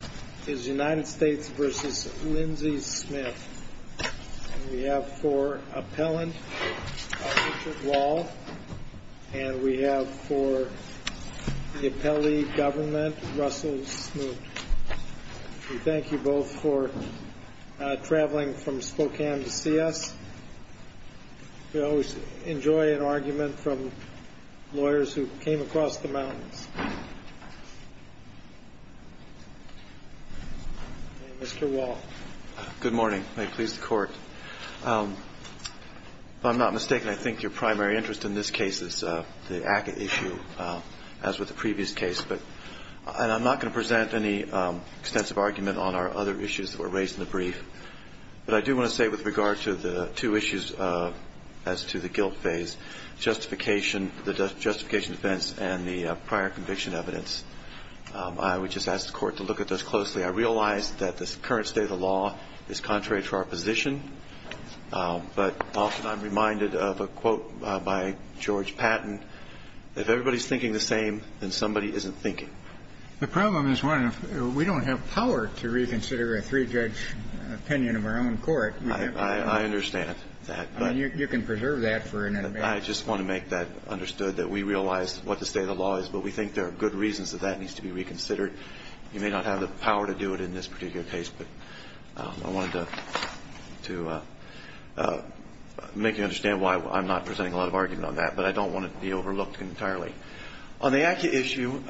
Thank you both for traveling from Spokane to see us. We always enjoy an argument from you. I'm not mistaken, I think your primary interest in this case is the ACCA issue as with the previous case. And I'm not going to present any extensive argument on our other issues that were raised in the brief. But I do want to say with regard to the two issues as to the guilt phase, the justification defense and the prior conviction evidence, I would just ask the Court to look at those closely. I realize that the current state of the law is contrary to our position, but often I'm reminded of a quote by George Patton, if everybody's thinking the same, then somebody isn't thinking. Kennedy The problem is one, we don't have power to reconsider a three-judge opinion of our own court. Smith I understand that. Kennedy I mean, you can preserve that for an amendment. Smith I just want to make that understood, that we realize what the state of the law is, but we think there are good reasons that that needs to be reconsidered. You may not have the power to do it in this particular case, but I wanted to make you understand why I'm not presenting a lot of argument on that. But I don't want it to be overlooked entirely. On the ACCA issue,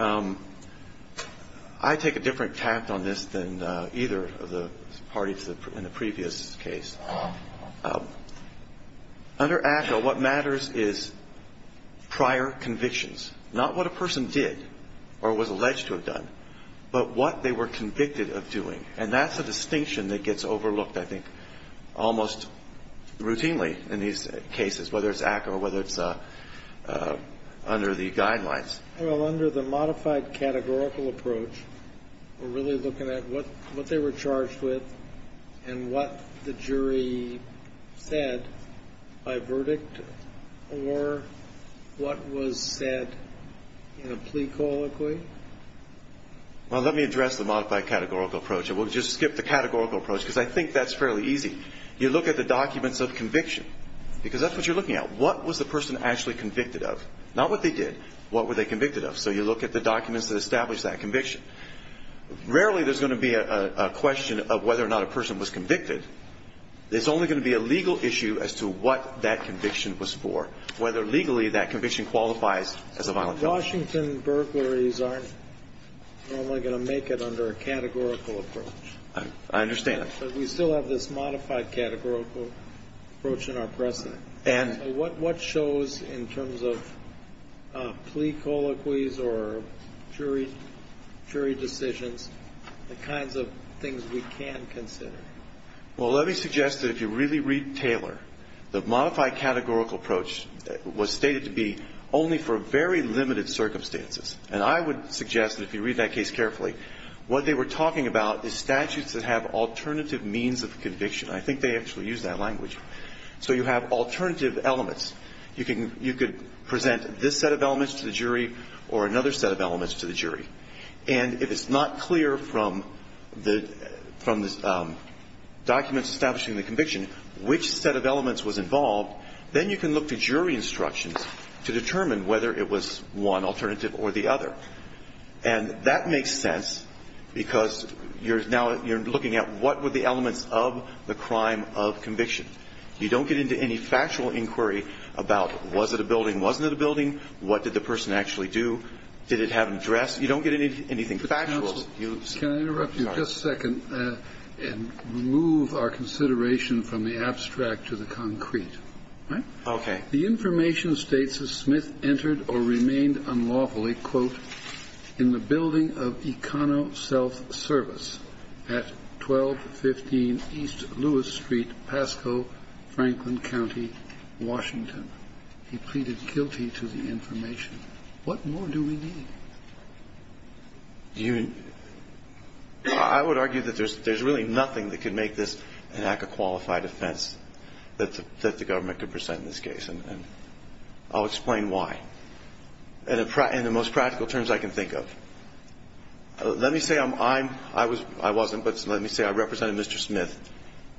I take a different tact on this than either of the parties in the case. The person did, or was alleged to have done, but what they were convicted of doing. And that's a distinction that gets overlooked, I think, almost routinely in these cases, whether it's ACCA or whether it's under the guidelines. Kennedy Well, under the modified categorical approach, we're really looking at what was the person actually convicted of? Not what they did. What were they convicted of? So you look at the documents that establish that conviction. Rarely there's going to be a question of whether or not a person was convicted. There's only going to be a legal issue as to what that conviction was for, whether legally that conviction qualifies as a violent offender. Washington burglaries aren't normally going to make it under a categorical approach. Kennedy I understand. But we still have this modified categorical approach in our precedent. Kennedy And So what shows, in terms of plea colloquies or jury decisions, the kinds of things we can consider? Kennedy Well, let me suggest that if you really read Taylor, the modified categorical approach was stated to be only for very limited circumstances. And I would suggest that if you read that case carefully, what they were talking about is statutes that have alternative means of conviction. I think they actually use that language. So you have alternative elements. You can you could present this set of elements to the jury or another set of elements to the jury. And if it's not clear from the from the documents establishing the conviction which set of elements was involved, then you can look to jury instructions to determine whether it was one alternative or the other. And that makes sense because you're now you're looking at what were the elements of the crime of conviction. You don't get into any factual inquiry about was it a building, wasn't it a building, what did the person actually do, did it have a dress? You don't get anything factual. Kennedy Can I interrupt you just a second and remove our consideration from the abstract to the concrete? Okay. The information states that Smith entered or remained unlawfully, quote, in the building of Econo Self Service at 1215 East Lewis Street, Pascoe, Franklin County, Washington. He pleaded guilty to the information. What more do we need? I would argue that there's there's really nothing that could make this an act of qualified offense that the government could present in this case, and I'll explain why in the most practical terms I can think of. Let me say I'm I'm I was I wasn't but let me say I represented Mr. Smith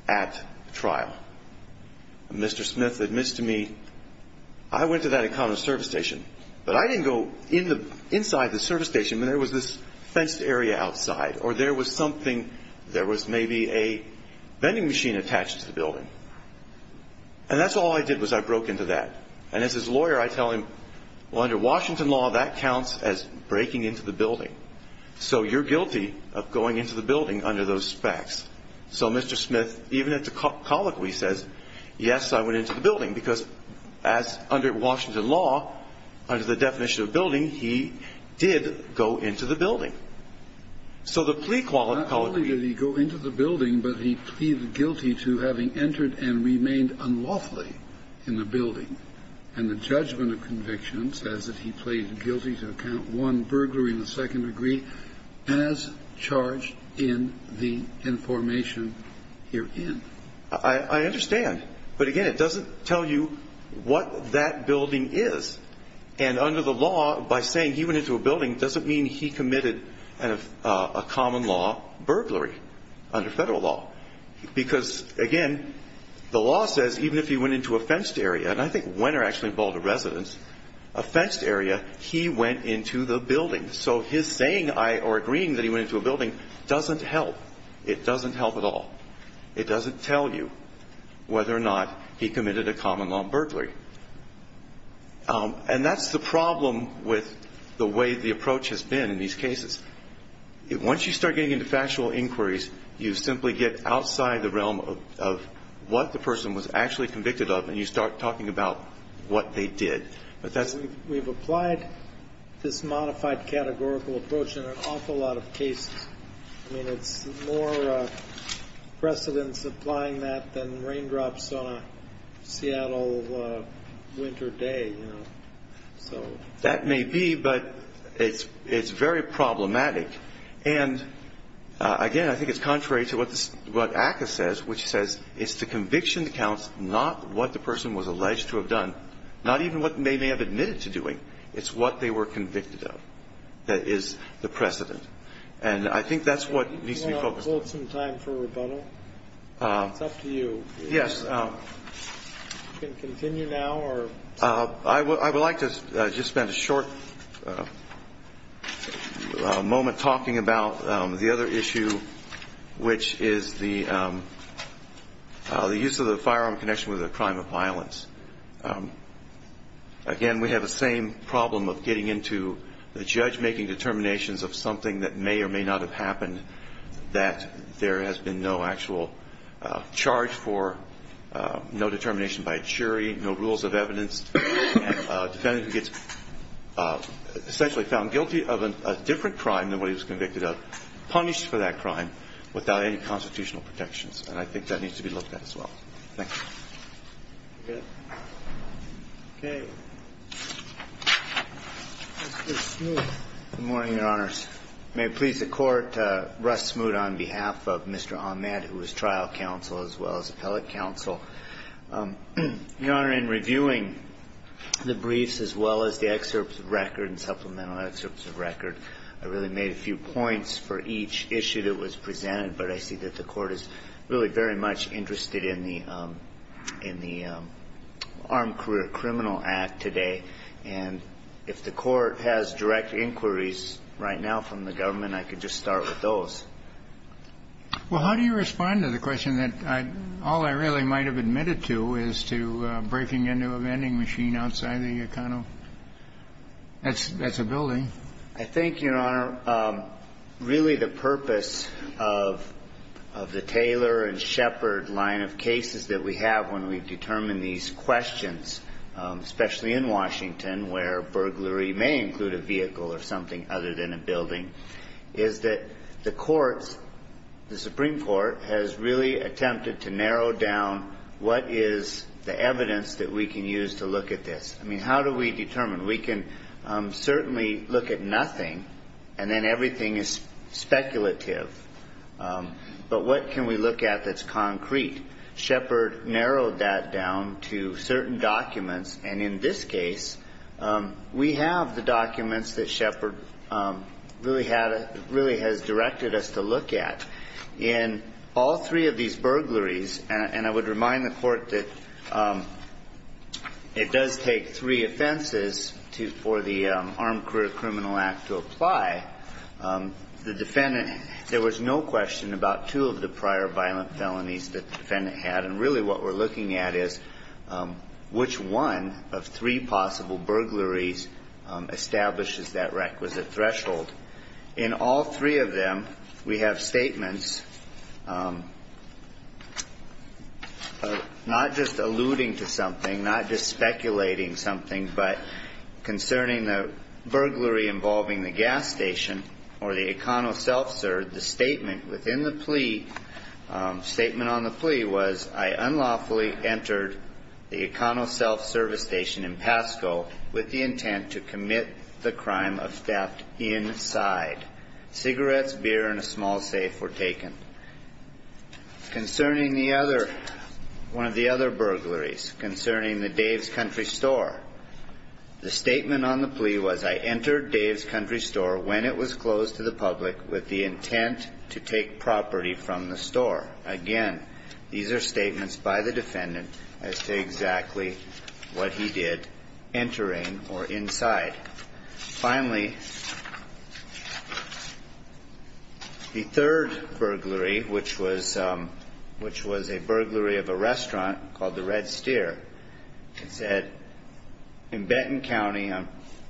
at trial. Mr. Smith admits to me I went to that Econo service station, but I didn't go in the inside the service station when there was this fenced area outside or there was something there was maybe a vending machine attached to the building. And that's all I did was I broke into that. And as his lawyer, I tell him, well, under Washington law, that counts as breaking into the building. So you're guilty of going into the building under those facts. So Mr. Smith, even at the colloquy, says, yes, I went into the building because as under Washington law, under the definition of building, he did go into the building. So the plea quality, not only did he go into the building, but he pleaded guilty to having entered and remained unlawfully in the building and the judgment of conviction says that he pleaded guilty to account one burglary in the second degree as charged in the information herein. I understand. But again, it doesn't tell you what that building is. And under the law, by saying he went into a building doesn't mean he committed a common law burglary under federal law. Because again, the law says even if he went into a fenced area, and I think Wenner actually bought a residence, a fenced area, he went into the building. So his saying or agreeing that he went into a building doesn't help. It doesn't help at all. It doesn't tell you whether or not he committed a common law burglary. And that's the problem with the way the approach has been in these cases. Once you start getting into factual inquiries, you simply get outside the realm of what the person was actually convicted of. And you start talking about what they did. But that's we've applied this modified categorical approach in an awful lot of cases. I mean, it's more precedence applying that than raindrops on a Seattle winter day. So that may be. But it's it's very problematic. And again, I think it's contrary to what this what ACCA says, which says it's the conviction that counts, not what the person was alleged to have done, not even what they may have admitted to doing. It's what they were convicted of that is the precedent. And I think that's what needs to be focused on. Can we hold some time for rebuttal? It's up to you. Yes. Can continue now or. I would like to just spend a short moment talking about the other issue, which is the use of the firearm connection with a crime of violence. Again, we have the same problem of getting into the judge making determinations of something that may or may not have happened, that there has been no actual charge for no determination by a jury, no rules of evidence. Defendant gets essentially found guilty of a different crime than what he was convicted of, punished for that crime without any constitutional protections. And I think that needs to be looked at as well. Thanks. OK. Good morning, Your Honors. May it please the Court, Russ Smoot on behalf of Mr. Ahmed, who was trial counsel as well as appellate counsel. Your Honor, in reviewing the briefs as well as the excerpts of record and supplemental excerpts of record, I really made a few points for each issue that was presented. But I see that the Court is really very much interested in the Armed Career Criminal Act today. And if the Court has direct inquiries right now from the government, I could just start with those. Well, how do you respond to the question that all I really might have admitted to is to breaking into a vending machine outside the kind of, that's a building. I think, Your Honor, really the purpose of the Taylor and Shepard line of cases that we have when we determine these questions, especially in Washington, where burglary may include a vehicle or something other than a building, is that the courts, the Supreme Court, has really attempted to narrow down what is the evidence that we can use to look at this. I mean, how do we determine? We can certainly look at nothing, and then everything is speculative. But what can we look at that's concrete? Shepard narrowed that down to certain documents. And in this case, we have the documents that Shepard really has directed us to look at. In all three of these burglaries, and I would remind the Court that it does take three offenses for the Armed Career Criminal Act to apply, the defendant, there was no question about two of the prior violent felonies that the defendant had. And really what we're looking at is which one of three possible burglaries establishes that requisite threshold. In all three of them, we have statements not just alluding to something, not just one, but concerning the burglary involving the gas station or the econo self-serve, the statement within the plea, statement on the plea was, I unlawfully entered the econo self-service station in Pasco with the intent to commit the crime of theft inside. Cigarettes, beer, and a small safe were taken. Concerning the other, one of the other burglaries concerning the Dave's Country Store, the statement on the plea was, I entered Dave's Country Store when it was closed to the public with the intent to take property from the store. Again, these are statements by the defendant as to exactly what he did entering or inside. Finally, the third burglary, which was a burglary of a restaurant called the Red Steer. It said, in Benton County,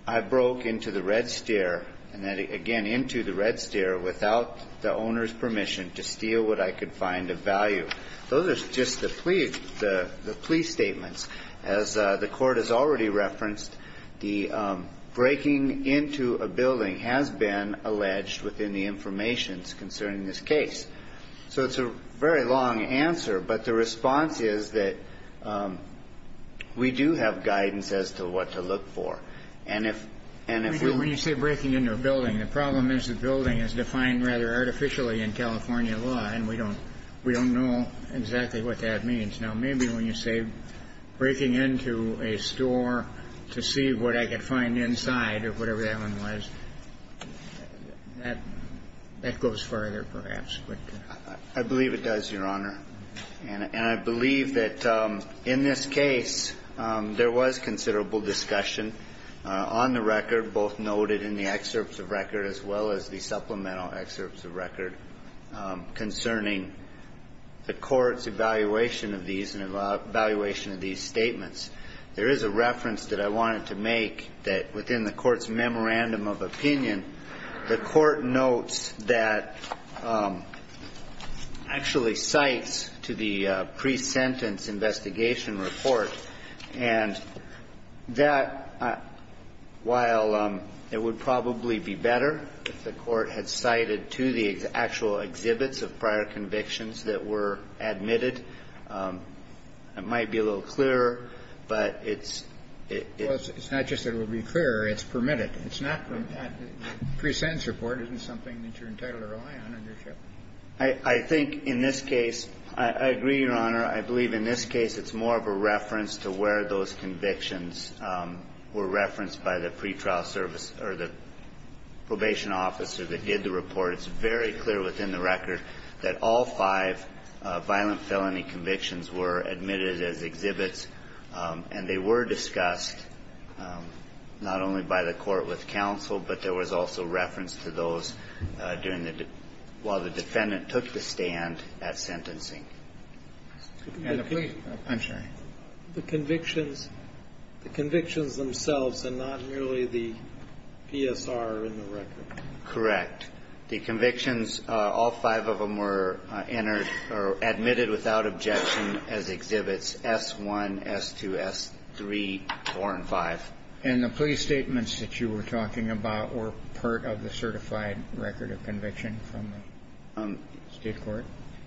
I broke into the Red Steer, and then again into the Red Steer without the owner's permission to steal what I could find of value. Those are just the plea statements. As the court has already referenced, the breaking into a building has been alleged within the information concerning this case. So it's a very long answer, but the response is that we do have guidance as to what to look for. And if, and if we. When you say breaking into a building, the problem is the building is defined rather artificially in California law, and we don't, we don't know exactly what that means. Now, maybe when you say breaking into a store to see what I could find inside, or whatever that one was, that, that goes further, perhaps, but. I believe it does, Your Honor. And I believe that in this case, there was considerable discussion on the record, both noted in the excerpts of record as well as the supplemental excerpts of record concerning the court's evaluation of these and evaluation of these statements. There is a reference that I wanted to make that within the court's memorandum of opinion, the court notes that actually cites to the pre-sentence investigation report, and that while it would probably be better if the court had cited to the actual exhibits of prior convictions that were admitted, it might be a little clearer, but it's, it's not just that it would be clearer, it's permitted. It's not from that pre-sentence report. Isn't something that you're entitled to rely on. I think in this case, I agree, Your Honor. I believe in this case, it's more of a reference to where those convictions were referenced by the pretrial service or the probation officer that did the report. It's very clear within the record that all five violent felony convictions were admitted as exhibits, and they were discussed not only by the court with counsel, but there was also reference to those during the, while the defendant took the stand at sentencing. The convictions, the convictions themselves, and not merely the PSR in the record. Correct. The convictions, all five of them were entered or admitted without objection as exhibits, S1, S2, S3, 4, and 5. And the plea statements that you were talking about were part of the certified record of conviction from the state court?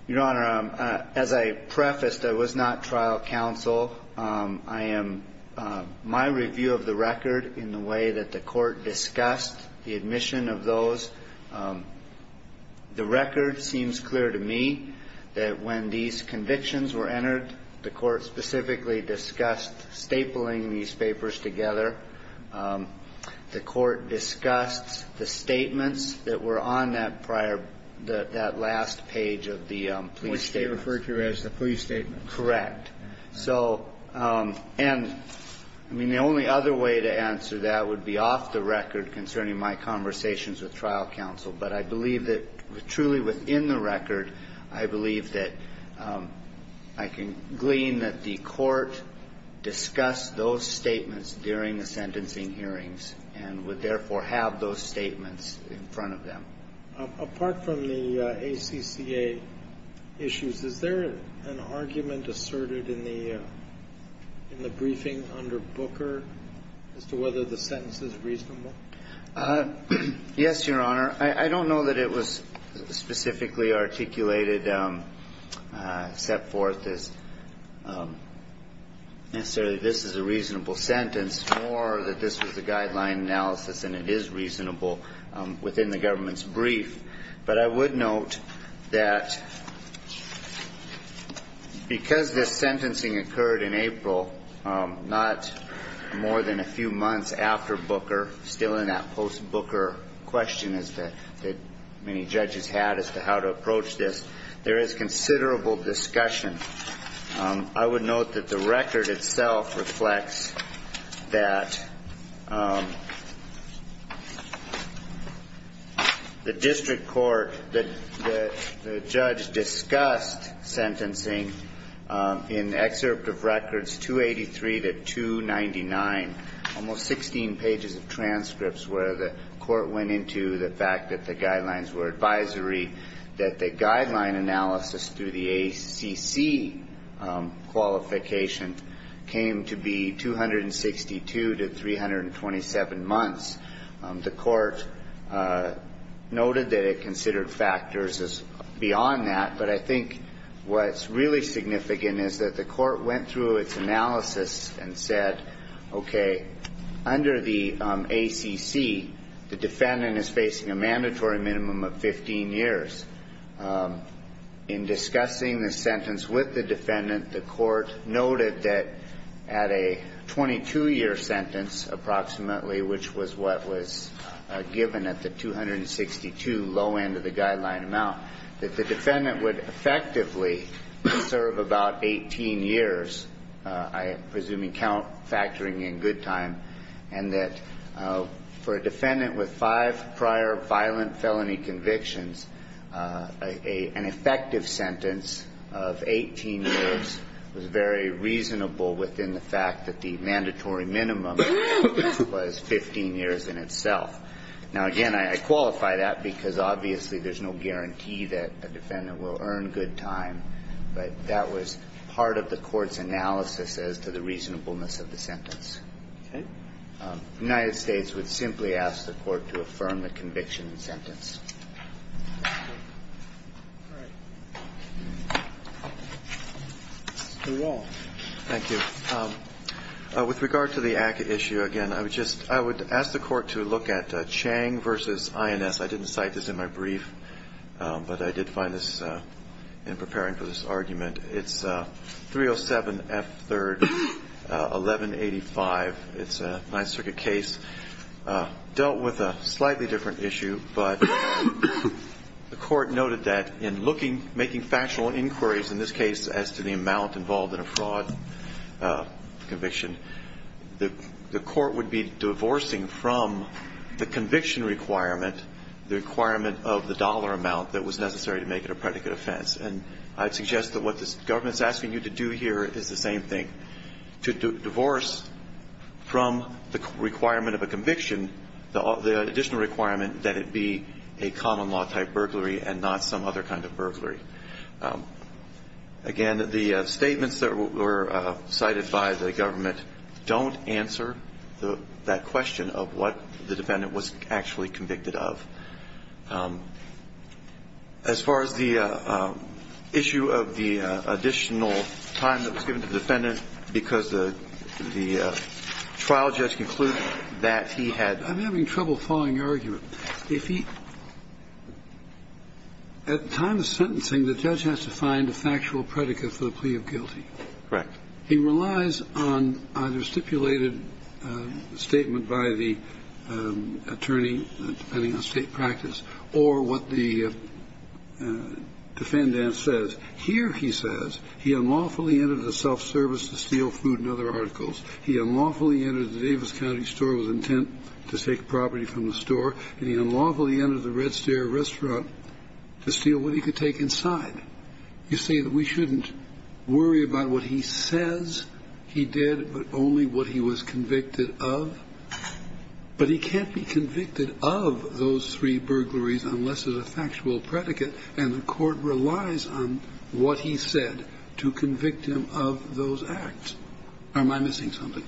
Your Honor, as I prefaced, I was not trial counsel. I am, my review of the record in the way that the court discussed the admission of those, the record seems clear to me that when these convictions were entered, the court specifically discussed stapling these papers together. The court discussed the statements that were on that prior, that last page of the plea statement. Which they referred to as the plea statement. Correct. So, and I mean, the only other way to answer that would be off the record concerning my conversations with trial counsel. But I believe that truly within the record, I believe that I can glean that the court discussed those statements during the sentencing hearings and would therefore have those statements in front of them. Apart from the ACCA issues, is there an argument asserted in the, in the briefing under Booker as to whether the sentence is reasonable? Yes, Your Honor. I don't know that it was specifically articulated, set forth as necessarily this is a reasonable sentence or that this was a guideline analysis and it is reasonable within the government's brief. But I would note that because this sentencing occurred in April, not more than a few months after Booker, still in that post-Booker question that many judges had as to how to approach this, there is considerable discussion. I would note that the record itself reflects that the district court, the judge discussed sentencing in excerpt of records 283 to 299, almost 16 pages of transcripts where the court went into the fact that the guidelines were advisory, that the guideline analysis through the ACC qualification came to be 262 to 327 months. The court noted that it considered factors beyond that, but I think what's really significant is that the court went through its analysis and said, okay, under the ACC, the defendant is facing a mandatory minimum of 15 years. In discussing the sentence with the defendant, the court noted that at a 22 year sentence, approximately, which was what was given at the 262 low end of the guideline amount, that the defendant would effectively serve about 18 years, I'm presuming count factoring in good time, and that for a defendant with five prior violent felony convictions, an effective sentence of 18 years was very reasonable within the fact that the mandatory minimum was 15 years in itself. Now, again, I qualify that because obviously there's no guarantee that a defendant will earn good time, but that was part of the court's analysis as to the reasonableness of the sentence. The United States would simply ask the court to affirm the conviction and sentence. All right. Mr. Wall. Thank you. With regard to the ACCA issue, again, I would ask the court to look at Chang v. INS, I didn't cite this in my brief, but I did find this in preparing for this argument, it's 307F3-1185, it's a Ninth Circuit case, dealt with a slightly different issue, but the court noted that in looking, making factual inquiries in this case as to the amount involved in a fraud conviction, the court would be divorcing from the conviction requirement, the requirement of the dollar amount that was necessary to make it a predicate offense. And I'd suggest that what this government's asking you to do here is the same thing. To divorce from the requirement of a conviction, the additional requirement that it be a common law type burglary and not some other kind of burglary. Again, the statements that were cited by the government don't answer that question of what the defendant was actually convicted of. As far as the issue of the additional time that was given to the defendant, because the trial judge concluded that he had the time to sentence him, the judge has to find a factual predicate for the plea of guilty. Correct. He relies on either stipulated statement by the attorney, depending on state practice, or what the defendant says. Here he says, he unlawfully entered a self-service dispute. He unlawfully entered the Davis County store with intent to take property from the store. And he unlawfully entered the Red Stair restaurant to steal what he could take inside. You say that we shouldn't worry about what he says he did, but only what he was convicted of. But he can't be convicted of those three burglaries unless there's a factual predicate. And the court relies on what he said to convict him of those acts. Am I missing something?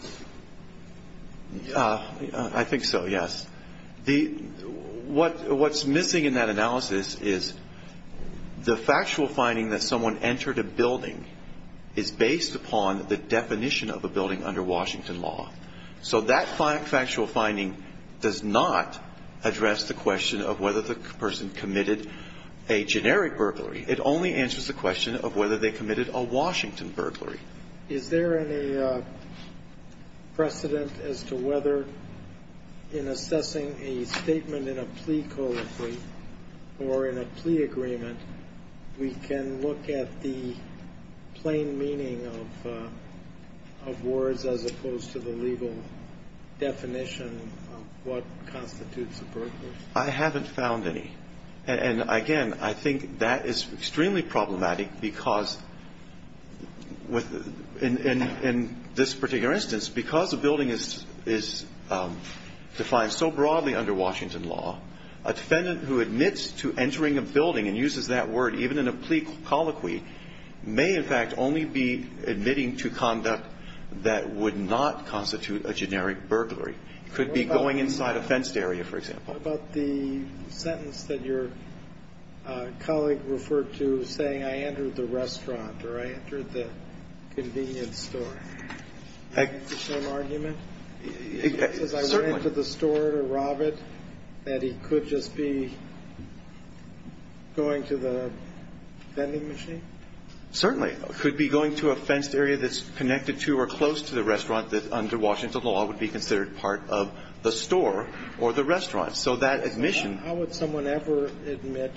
I think so, yes. What's missing in that analysis is the factual finding that someone entered a building is based upon the definition of a building under Washington law. So that factual finding does not address the question of whether the person committed a generic burglary. It only answers the question of whether they committed a Washington burglary. Is there any precedent as to whether in assessing a statement in a plea code or in a plea agreement, we can look at the plain meaning of words as opposed I haven't found any. And again, I think that is extremely problematic because in this particular instance, because a building is defined so broadly under Washington law, a defendant who admits to entering a building and uses that word even in a plea colloquy may in fact only be admitting to conduct that would not constitute a generic burglary. It could be going inside a fenced area, for example. What about the sentence that your colleague referred to saying, I entered the restaurant or I entered the convenience store? Is that the same argument? Certainly. Because I went into the store to rob it, that he could just be going to the vending machine? Certainly. It could be going to a fenced area that's connected to or close to the restaurant that under Washington law would be considered part of the store or the restaurant. So that admission How would someone ever admit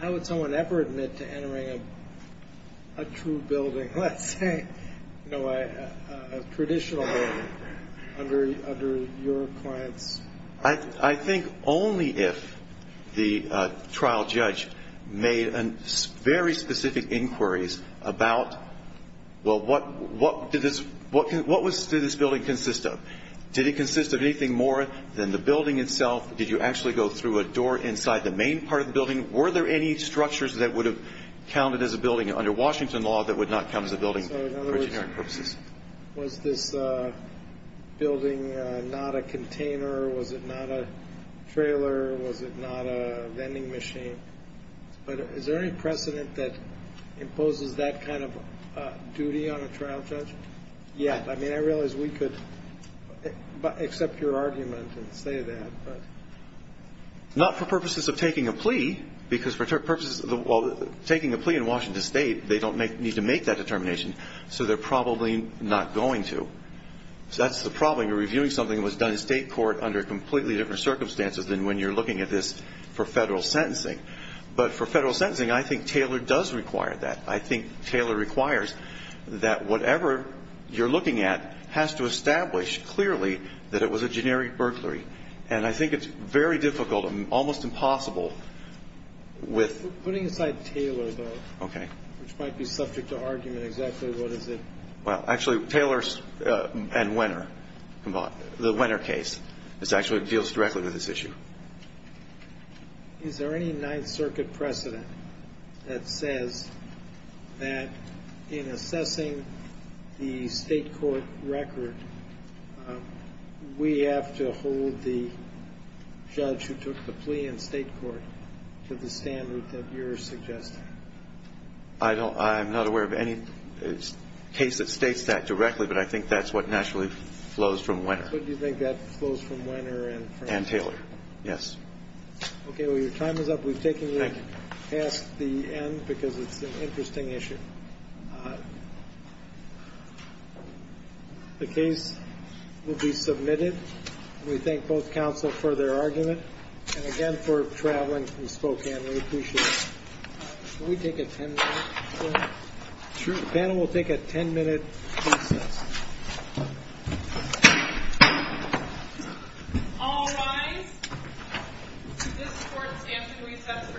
to entering a true building, let's say, a traditional building, under your clients? I think only if the trial judge made very specific inquiries about well, what did this building consist of? Did it consist of anything more than the building itself? Did you actually go through a door inside the main part of the building? Were there any structures that would have counted as a building under Washington law that would not count as a building for generic purposes? Was this building not a container? Was it not a trailer? Was it not a vending machine? But is there any precedent that imposes that kind of duty on a trial judge? Yeah. I mean, I realize we could accept your argument and say that, but Not for purposes of taking a plea. Because for purposes of taking a plea in Washington state, they don't need to make that determination. So they're probably not going to. So that's the problem. You're reviewing something that was done in state court under completely different circumstances than when you're looking at this for federal sentencing. But for federal sentencing, I think Taylor does require that. I think Taylor requires that whatever you're looking at has to establish clearly that it was a generic burglary. And I think it's very difficult and almost impossible with We're putting aside Taylor, though. Okay. Which might be subject to argument. Exactly what is it? Well, actually, Taylor and Wenner. The Wenner case. This actually deals directly with this issue. Is there any Ninth Circuit precedent that says that in assessing the state court record, we have to hold the judge who took the plea in state court to the standard that you're suggesting? I'm not aware of any case that states that directly. But I think that's what naturally flows from Wenner. But do you think that flows from Wenner? And Taylor. Yes. Okay. Well, your time is up. We've taken you past the end because it's an interesting issue. The case will be submitted. We thank both counsel for their argument. And again, for traveling from Spokane, we appreciate it. Can we take a 10-minute break? Sure. The panel will take a 10-minute recess. All rise. This court is stamped in recess for 10 minutes.